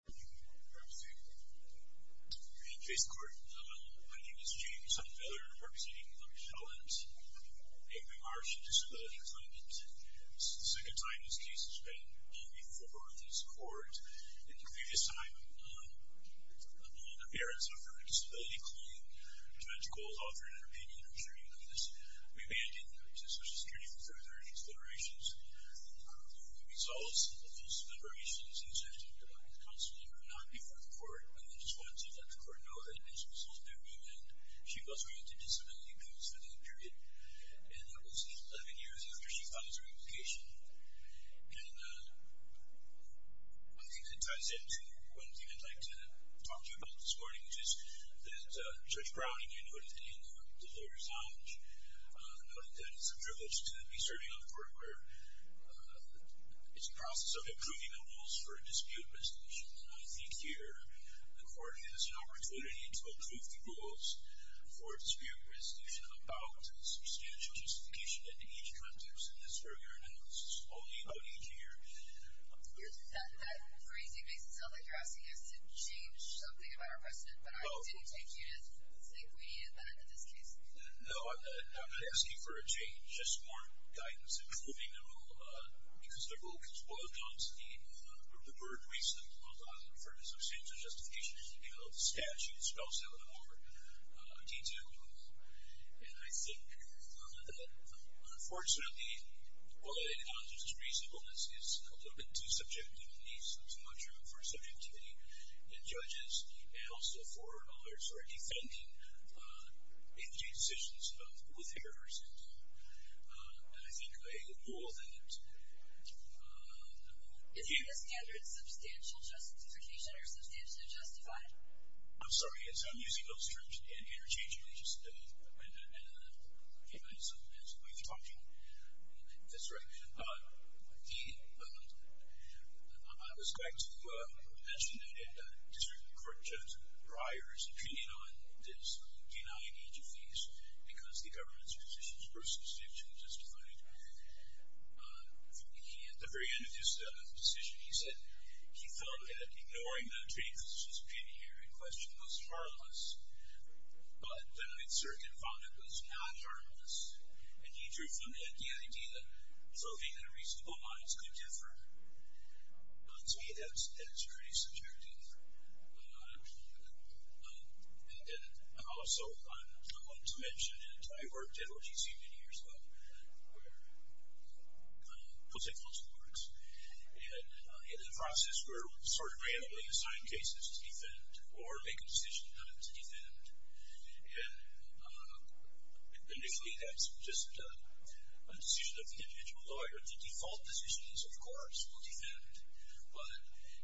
I'm here to face the court. My name is James Sunfeller. I'm representing Shelby Islands. I'm a member of the Marsh Disability Claimant. This is the second time this case has been before this court. In the previous time, the parents offered a disability claim. Judge Cole has offered an opinion. I'm sure you agree with this. We abandoned the use of social security for further considerations. The results of those deliberations, as I've talked about constantly, were not before the court. I just wanted to let the court know that this was all new to me. She was granted disability claims for that period. That was 11 years after she filed her application. One thing that ties into one thing I'd like to talk to you about this morning, which is that Judge Browning, in her opinion, did not resound. She noted that it's a privilege to be serving on a court where it's a process of improving the rules for a dispute resolution. I think here the court has an opportunity to improve the rules for a dispute resolution about substantial justification in each context in this very area. This is only about each year. That phrasing makes it sound like you're asking us to change something about our precedent, but I didn't take you to think we needed that in this case. No, I'm not asking for a change, just more guidance in improving the rule because the rule is well-adopted. The bird reason is well-adopted in the purpose of substantial justification. It should be held to statute. It spells out in more detail. And I think that, unfortunately, well-adopted on just reasonableness is a little bit too subjective and needs too much room for subjectivity in judges and also for defending individual decisions with errors in them. And I think all of that. Is the standard substantial justification or substantially justified? I'm sorry, I'm using those terms interchangeably. It's a way of talking. That's right. I was going to mention that District Court Judge Breyer's opinion on this denied each of these because the government's positions were substantially justified. At the very end of his decision, he said he felt that ignoring the jury physician's opinion here in question was harmless, but the circuit found it was not harmless. And he drew from that the idea that something in reasonable minds could differ. To me, that's pretty subjective. And also, I wanted to mention, and I worked at OGC many years ago, where Post-Equalism works, and in the process we're sort of randomly assigned cases to defend or make a decision on them to defend. And if you have just a decision of the individual lawyer, the default position is, of course, we'll defend. But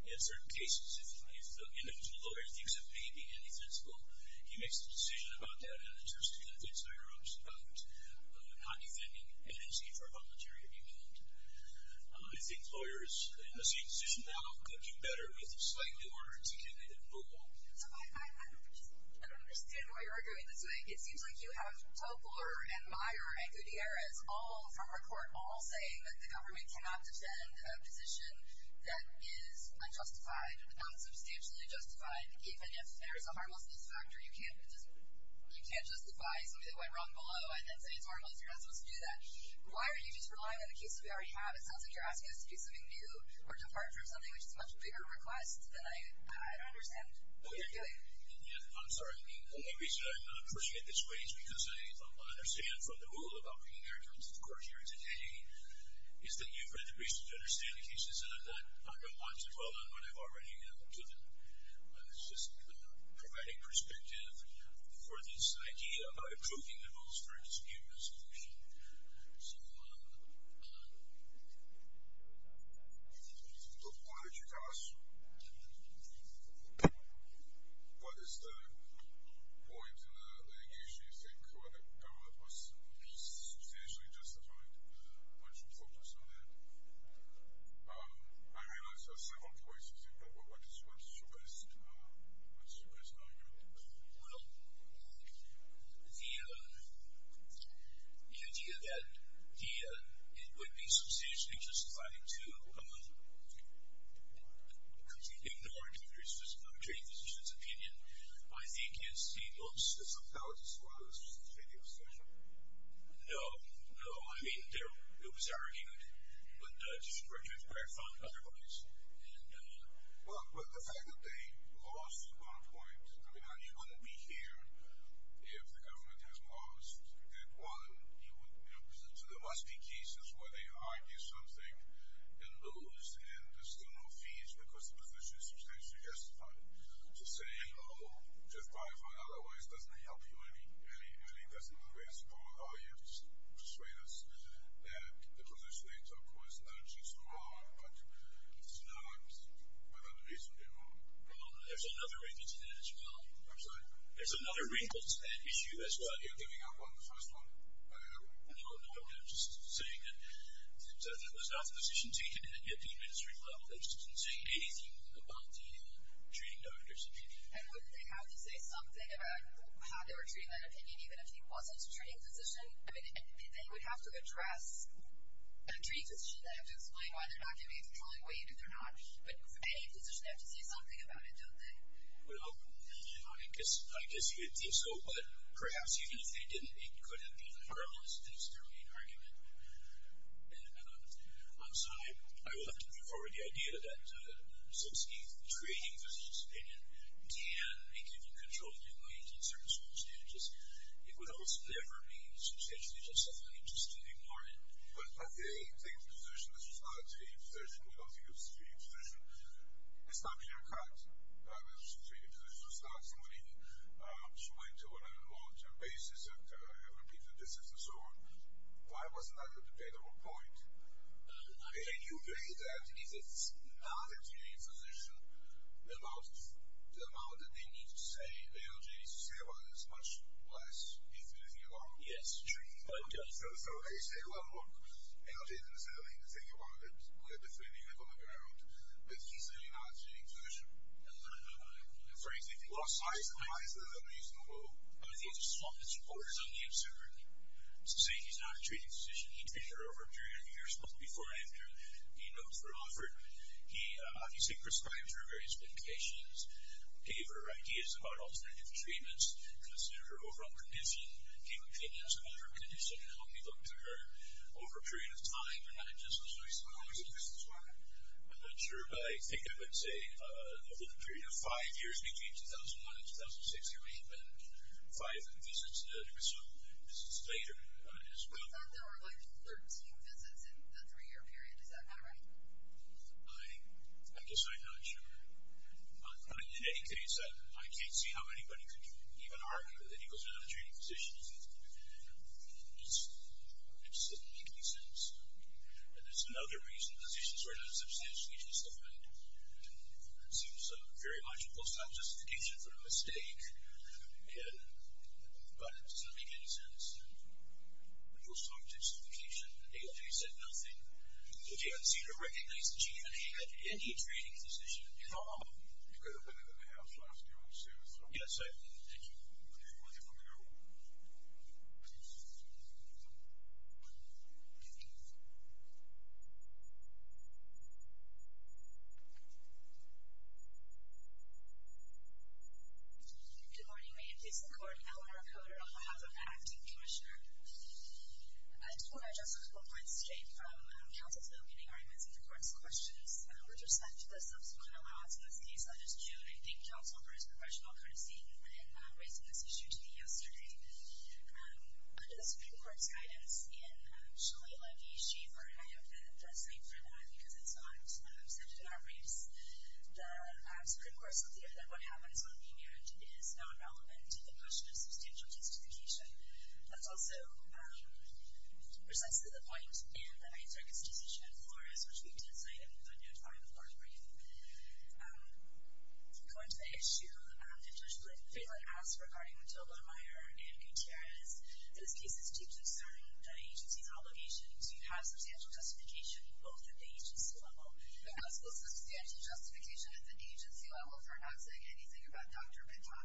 in certain cases, if the individual lawyer thinks it may be indefensible, he makes a decision about that, and it's just to convince the jurors about not defending NNC for voluntary abuse. I think lawyers in the same position now could do better with a slightly more articulated rule. So I don't understand why you're arguing this way. It seems like you have Topler and Meyer and Gutierrez, all from our court, all saying that the government cannot defend a position that is unjustified, not substantially justified, even if there is a harmlessness factor. You can't justify something that went wrong below and then say it's harmless. You're not supposed to do that. Why are you just relying on the cases we already have? It sounds like you're asking us to do something new or depart from something, which is a much bigger request, and I don't understand what you're doing. I'm sorry. The only reason I'm pushing it this way is because I understand from the rule about bringing Eric into the court hearing today is that you've had the reason to understand the cases, and I'm not going to want to dwell on what I've already given. It's just providing perspective for this idea of approving the rules for a dispute resolution. So why don't you tell us what is the point in the litigation you think when the government was substantially justified? Why don't you focus on that? I realize there are several points, but what's your best argument? Well, the idea that it would be substantially justified to ignore a dispute resolution's opinion, I think, is the most substantial. Is the most substantial? No. No. I mean, it was argued. But just to be very clear, I found it otherwise. Well, the fact that they lost on a point, I mean, you couldn't be here if the government had lost. One, there must be cases where they argue something and lose, and there's still no fees because the position is substantially justified. To say, oh, just by and far, in other words, doesn't help you any, doesn't grant support at all, you have to persuade us that the position they took was not just wrong, but it's not without a reason, they were wrong. Well, there's another wrinkle to that as well. I'm sorry? There's another wrinkle to that issue as well. You're giving up on the first one? No, no, no. I'm just saying that that was not the position taken at the administrative level. They just didn't say anything about the treating doctors. And wouldn't they have to say something about how they were treating that opinion even if he wasn't a treating physician? I mean, they would have to address a treating physician. They would have to explain why they're not giving a controlling weight, if they're not. But any physician would have to say something about it, don't they? Well, I guess you would think so, but perhaps even if they didn't, it couldn't be the firmest, that's their main argument. So I will have to put forward the idea that since the treating physician's opinion can be given control in certain circumstances, it would also never be substantially justified just to ignore it. But the treating physician, this was not a treating physician. We don't think it was a treating physician. It's not clear-cut. The treating physician was not somebody who went to an on a long-term basis and had repeated visits and so on. Why was it not a dependable point? And you agree that if it's not a treating physician, the amount that they need to say, the LGA needs to say about it is much less if anything at all? Yes. So they say, well, look, LGA is necessarily going to say that we're defending it on the ground, but he's really not a treating physician. And frankly, what size and size is unreasonable? Well, I think it's his fault that supporters only observe him. So to say he's not a treating physician, he treated her over a period of years, both before and after the notes were offered. He obviously prescribes her various medications, gave her ideas about alternative treatments, considered her overall condition, gave opinions about her condition, and helped me look to her over a period of time. You're not agnostic. So how many visits were there? I'm not sure, but I think I would say over the period of five years, between 2001 and 2006, there may have been five visits, and there were some visits later as well. I thought there were like 13 visits in the three-year period. Is that not right? I guess I'm not sure. In any case, I can't see how anybody could even argue that he was not a treating physician. It just doesn't make any sense. And there's another reason. Physicians were not substantially justified. It seems very much a post-hoc justification for a mistake, but it doesn't make any sense. A post-hoc justification, ALJ said nothing. I don't see or recognize that she had any treating physician at home. She could have been in the house last year, I'm assuming. Yes, sir. Thank you. Okay, we're going to go. Good morning. My name is Eleanor Coder on behalf of the Acting Commissioner. I just want to address a couple points straight from counsel's opening arguments and the court's questions. With respect to the subsequent allowance in this case, I just do want to thank counsel for his professional courtesy in raising this issue to me yesterday. Under the Supreme Court's guidance in Shelley, Levy, Schaefer, and I have the same for that because it's not set in our briefs, the Supreme Court said that what happens on the marriage is not relevant to the question of substantial justification. That's also precisely the point in the 9th Circuit's decision in Flores, which we did cite in the note 5 of the court's brief. According to the issue, Judge Fidler asks, regarding Jodler-Meyer and Gutierrez, that this case is too concerning to the agency's obligation to have substantial justification both at the agency level. The counsel says substantial justification at the agency level for not saying anything about Dr. Bitton.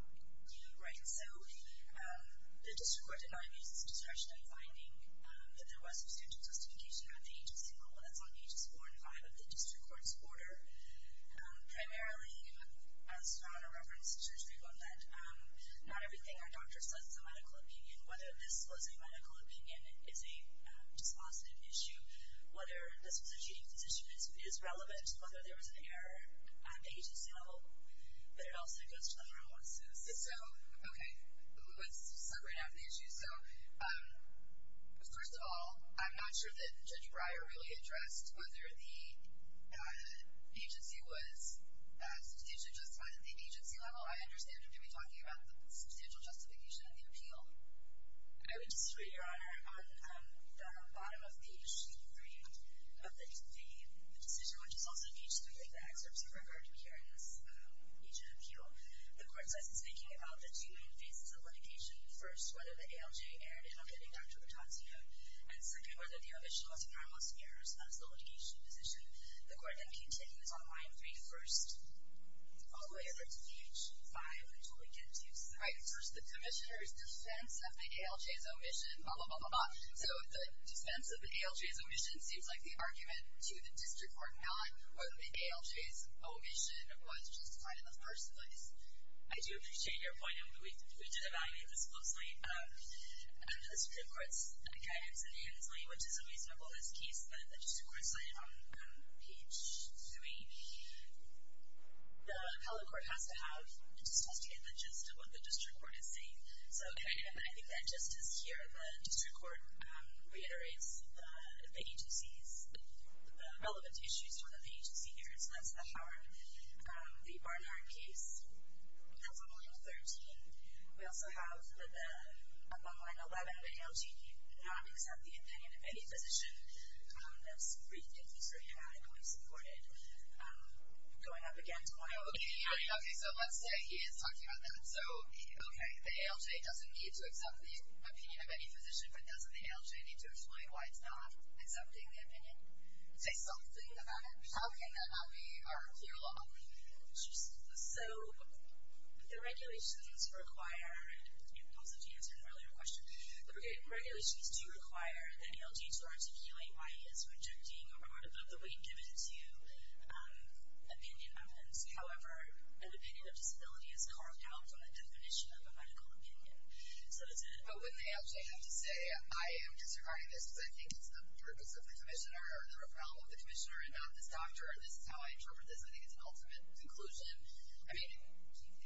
Right. So the district court did not use its discretion in finding that there was substantial justification at the agency level. That's on pages 4 and 5 of the district court's order. Primarily, as found in reference to his brief on that, not everything our doctor says is a medical opinion. Whether this was a medical opinion is a dispositive issue. Whether this was a cheating physician is relevant. Whether there was an error at the agency level. But it also goes to other analysis. So, okay. Let's separate out the issues. So, first of all, I'm not sure that Judge Breyer really addressed whether the agency was substantially justified at the agency level. I understand him to be talking about the substantial justification in the appeal. I would disagree, Your Honor, on the bottom of the issue of the decision, which is also in page 3 of the excerpts in regard to hearing this agent appeal. The court says it's thinking about the two main phases of litigation. First, whether the ALJ erred in updating Dr. Bitton's note. And second, whether the omission was in harmless errors as the litigation position. The court then continues on line 3 first, all the way over to page 5 until we get to section 3. Right. First, the commissioner's defense of the ALJ's omission, blah, blah, blah, blah, blah. So, the defense of the ALJ's omission seems like the argument to the district court not whether the ALJ's omission was justified in the first place. I do appreciate your point, and we did evaluate this closely. Under the Supreme Court's guidance in Hensley, which is a reasonable list case that the district court cited on page 3, the appellate court has to have and just has to get the gist of what the district court is saying. So, I think that gist is here. The district court reiterates the agency's relevant issues to one of the agency hearings. That's the Howard, the Barnhart case. That's on line 13. We also have the, up on line 11, the ALJ did not accept the opinion of any physician. Those briefings were unanimously supported. Going up again to line 11. Okay, so let's say he is talking about that. So, okay, the ALJ doesn't need to accept the opinion of any physician, but doesn't the ALJ need to explain why it's not accepting the opinion? Say something about it. How can that not be our clear law? So, the regulations require, and also to answer an earlier question, the regulations do require that ALJ to articulate why it is rejecting or reward of the weight given to opinion evidence. However, an opinion of disability is carved out from the definition of a medical opinion. But wouldn't they actually have to say, I am disregarding this because I think it's the purpose of the commissioner or the referral of the commissioner and not this doctor, and this is how I interpret this. I think it's an ultimate conclusion. I mean,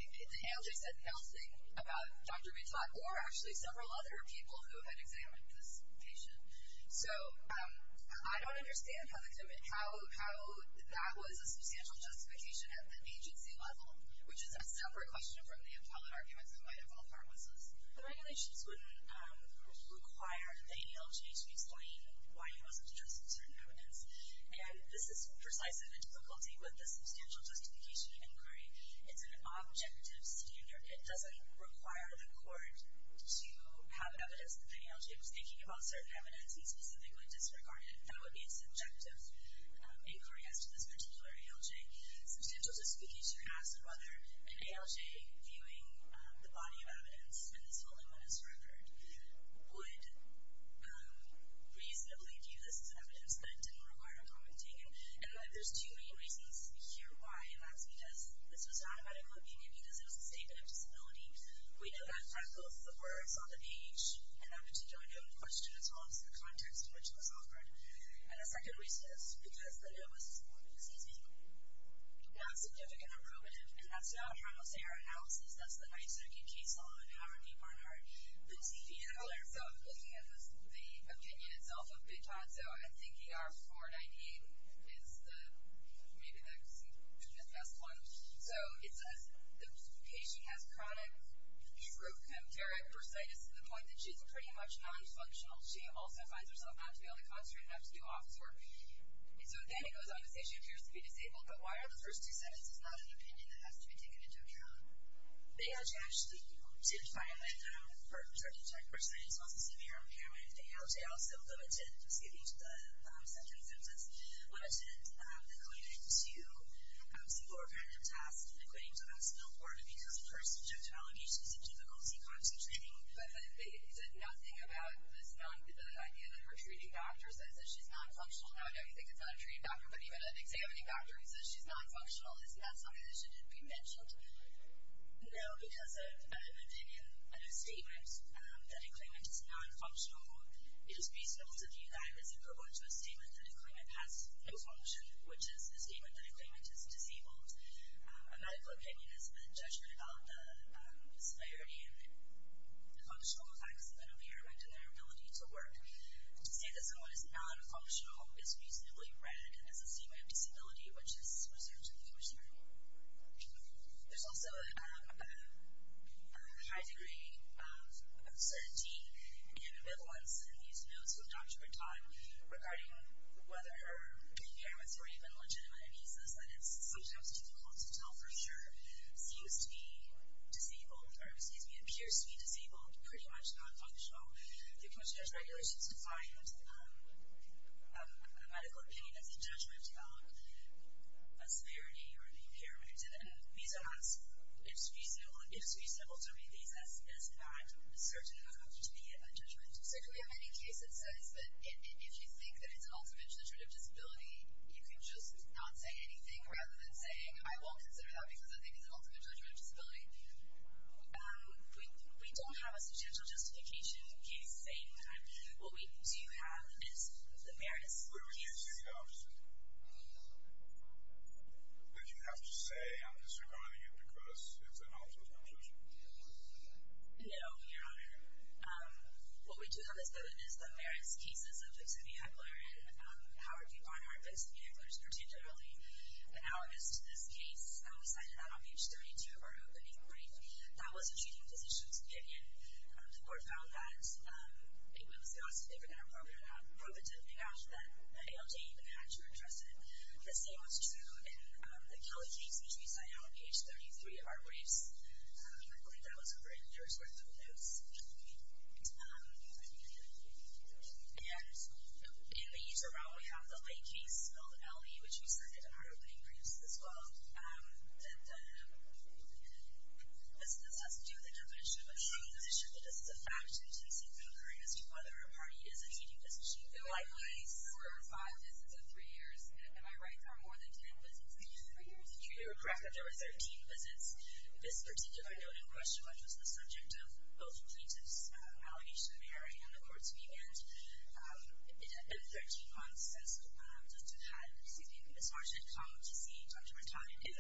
the ALJ said nothing about Dr. Mitlach or actually several other people who had examined this patient. So, I don't understand how that was a substantial justification at the agency level, which is a separate question from the appellate argument that might involve pharmacists. The regulations wouldn't require the ALJ to explain why it wasn't addressing certain evidence. And this is precisely the difficulty with the substantial justification inquiry. It's an objective standard. It doesn't require the court to have evidence that the ALJ was thinking about certain evidence and specifically disregarded. That would be a subjective inquiry as to this particular ALJ. Substantial justification asked whether an ALJ viewing the body of evidence in this willingness record would reasonably view this as evidence that didn't require commenting. And there's two main reasons here why, and that's because this was not a medical opinion, because it was a statement of disability. We know that from both the words on the page and that particularly question as well as the context in which it was offered. And the second reason is because it was, so to speak, not significant or probative. And that's not a harmless AR analysis. That's the knife-circuit case law in Howard v. Barnhart. But to be clear, so looking at the opinion itself of Big Tazo, I think AR 498 is the, maybe the best one. So, it says, the patient has chronic, recurrent persitis to the point that she's pretty much non-functional. She also finds herself not to be able to concentrate enough to do office work. And so then it goes on to say she appears to be disabled. But why are the first two sentences not an opinion that has to be taken into account? ALJ actually did find that her persistent persistence was a severe impairment. ALJ also limited, skipping to the second sentence, limited the clinic to some more repetitive tasks, the clinic to the hospital board, because of her subjective allegations of difficulty concentrating. But is it nothing about this idea that her treating doctor says that she's non-functional? Now, I know you think it's not a treating doctor, but even an examining doctor who says she's non-functional. Isn't that something that should be mentioned? No, because of an opinion, a statement, that a claimant is non-functional, it is reasonable to view that as a provoke to a statement that a claimant has no function, which is a statement that a claimant is disabled. A medical opinion is a judgment about the severity and functional effects of an impairment and their ability to work. To say that someone is non-functional is reasonably read as a statement of disability, which is reserved to the user. There's also a high degree of certainty and ambivalence in these notes from Dr. Bertot regarding whether her impairments were even legitimate, and he says that it's sometimes difficult to tell for sure. Seems to be disabled, or excuse me, appears to be disabled, pretty much non-functional. The commission has regulations defined a medical opinion as a judgment about a severity or an impairment, and we don't ask if it's reasonable to read these as that certain enough to be a judgment. So can we have any case that says that if you think that it's an ultimate judgment of disability, you can just not say anything rather than saying, I won't consider that because I think it's an ultimate judgment of disability? We don't have a substantial justification case saying that. What we do have is the various cases. Wait, wait, can you say the opposite? Do you have to say I'm disregarding it because it's an opposite conclusion? No, Your Honor. What we do have is the various cases of fixed-vehicular and how are people on our fixed-vehiculars pertain generally. Analogous to this case, we cited that on page 32 of our opening brief. That was a treating physician's opinion. The court found that it was the opposite. They were going to prove it to the judge that ALJ even had to address it. The same was true in the Kelly case, which we cited on page 33 of our briefs. I believe that was written. There were sort of notes. And in the user route, we have the lay case, spelled L-E, which we cited in our opening briefs as well. And this has to do with the definition of a treating physician. This is a fact-intensive inquiry as to whether a party is a treating physician. There were four or five visits in three years. Am I right? There were more than ten visits in three years. You are correct. There were 13 visits. This particular note in question was the subject of both plaintiff's allegation of error and the court's remand. In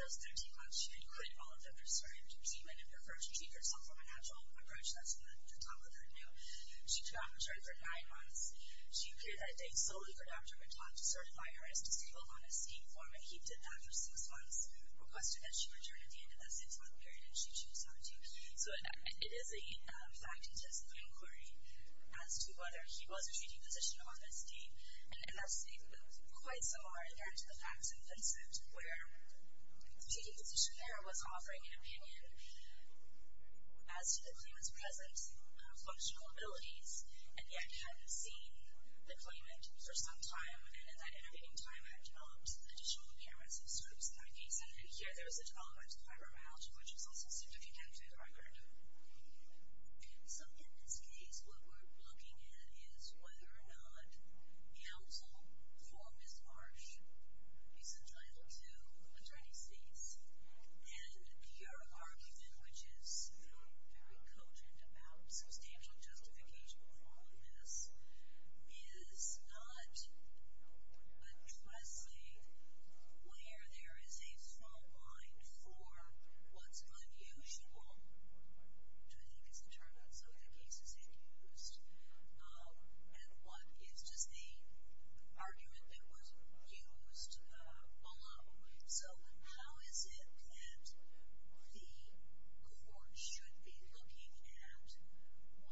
those 13 months, she had quit all of the prescribed treatment and preferred to treat herself from a natural approach. That's the top of her note. She could not return for nine months. She appeared that day solely for Dr. Montauk to certify her as disabled on a seeing form, and he did that for six months, requested that she return at the end of that six-month period, and she chose not to. So it is a fact-intensive inquiry as to whether he was a treating physician on this date. And that's quite similar, again, to the facts-intensive, where the treating physician there was offering an opinion as to the claimant's present functional abilities and yet hadn't seen the claimant for some time, and in that intervening time had not additional appearance of symptoms in that case. And then here there was a telegraphed fibromyalgia, which is also certificated to the record. So in this case, what we're looking at is whether or not counsel for Ms. Marsh is entitled to attorney's fees. And your argument, which is very cogent about substantial justification for all of this, is not addressing where there is a strong line for what's unusual, which I think is the term that some of the cases had used, and what is just the argument that was used below. So how is it that the court should be looking at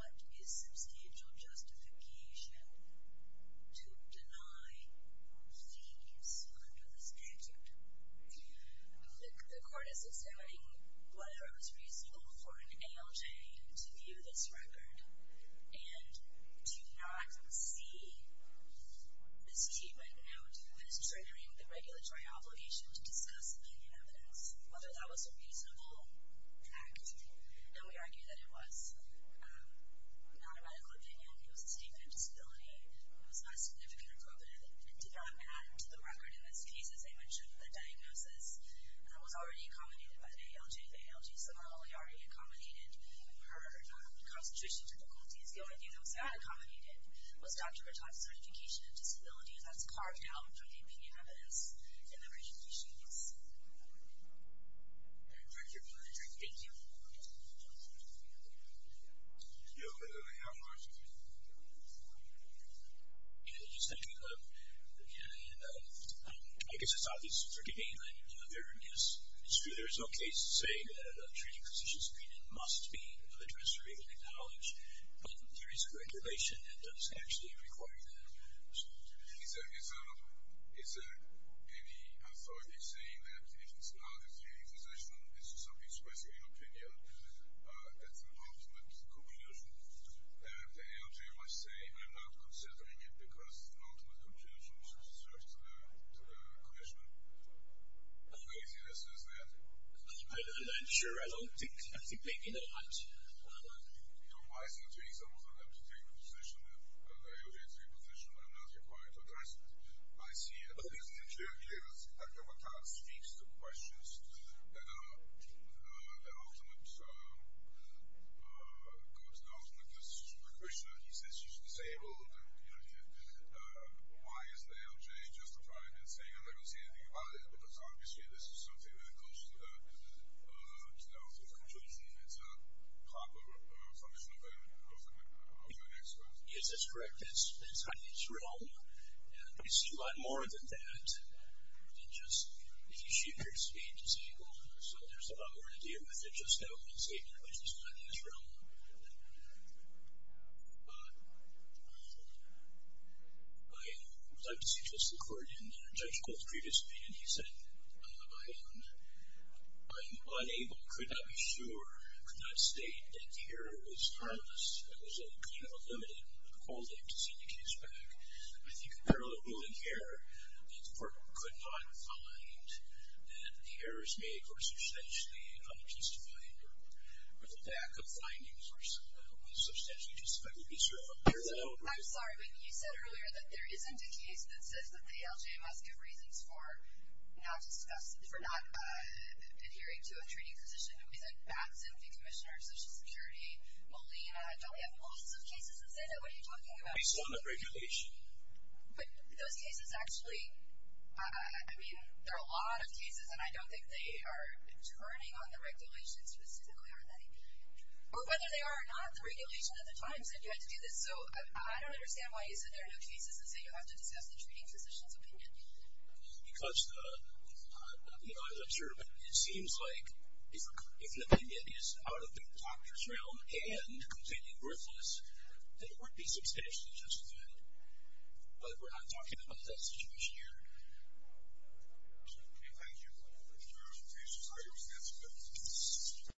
what is substantial justification to deny fees under the statute? The court is examining whether it was reasonable for an ALJ to view this record and do not see this treatment note as triggering the regulatory obligation to discuss opinion evidence, whether that was a reasonable act. And we argue that it was not a medical opinion. It was a statement of disability. It was not significant or proven. It did not add to the record in this case. As I mentioned, the diagnosis was already accommodated by the ALJ. The ALJs are normally already accommodated. We've heard of the constitution difficulties. The only thing that was not accommodated was Dr. Rataj's certification of disability, and that's carved out from the opinion evidence in the original case. Thank you. I guess it's obvious for debate, and it's true there is no case to say that a treating physician's opinion must be addressed or even acknowledged, but there is a regulation that does actually require that. Is there any authority saying that if it's not a treating physician, it's just something expressing an opinion, that's an ultimate conclusion? The ALJ might say, I'm not considering it because it's an ultimate conclusion, so it's just a question. The craziness is that- I'm sure I don't have to take it on. Why is it that treating physicians are allowed to take a position if the ALJs take a position when I'm not required to address it? I see it. I think what kind of speaks to the question is the ultimate conclusion. He says she's disabled. Why is the ALJ justified in saying I've never seen anything about it? Because obviously this is something that goes to the ultimate conclusion. It's a proper submission of an expert. Yes, that's correct. It's not in his realm, and it's a lot more than that. It's just that she appears to be disabled, so there's a lot more to deal with than just that one statement, which is not in his realm. I would like to see just the court. In a judge's quote previously, he said, I'm unable, could not be sure, could not state that here it was harmless, that there was a kind of a limited quality to see the case back. I think in parallel to that here, the court could not find that the errors made were substantially unjustified or the lack of findings were substantially justified. I'm sorry, but you said earlier that there isn't a case that says that the ALJ must give reasons for not adhering to a treating physician. We said Batson, the Commissioner of Social Security, Molina. Don't we have lots of cases that say that? What are you talking about? Based on the regulation. But those cases actually, I mean, there are a lot of cases, and I don't think they are turning on the regulation specifically on that. Or whether they are or not, the regulation at the time said you had to do this. So I don't understand why you said there are no cases that say you have to discuss the treating physician's opinion. Because, you know, as an observant, it seems like if an opinion is out of the doctor's realm and completely worthless, then it would be substantially justified. But we're not talking about that situation here. Okay, thank you. Any further questions? All right, that's good.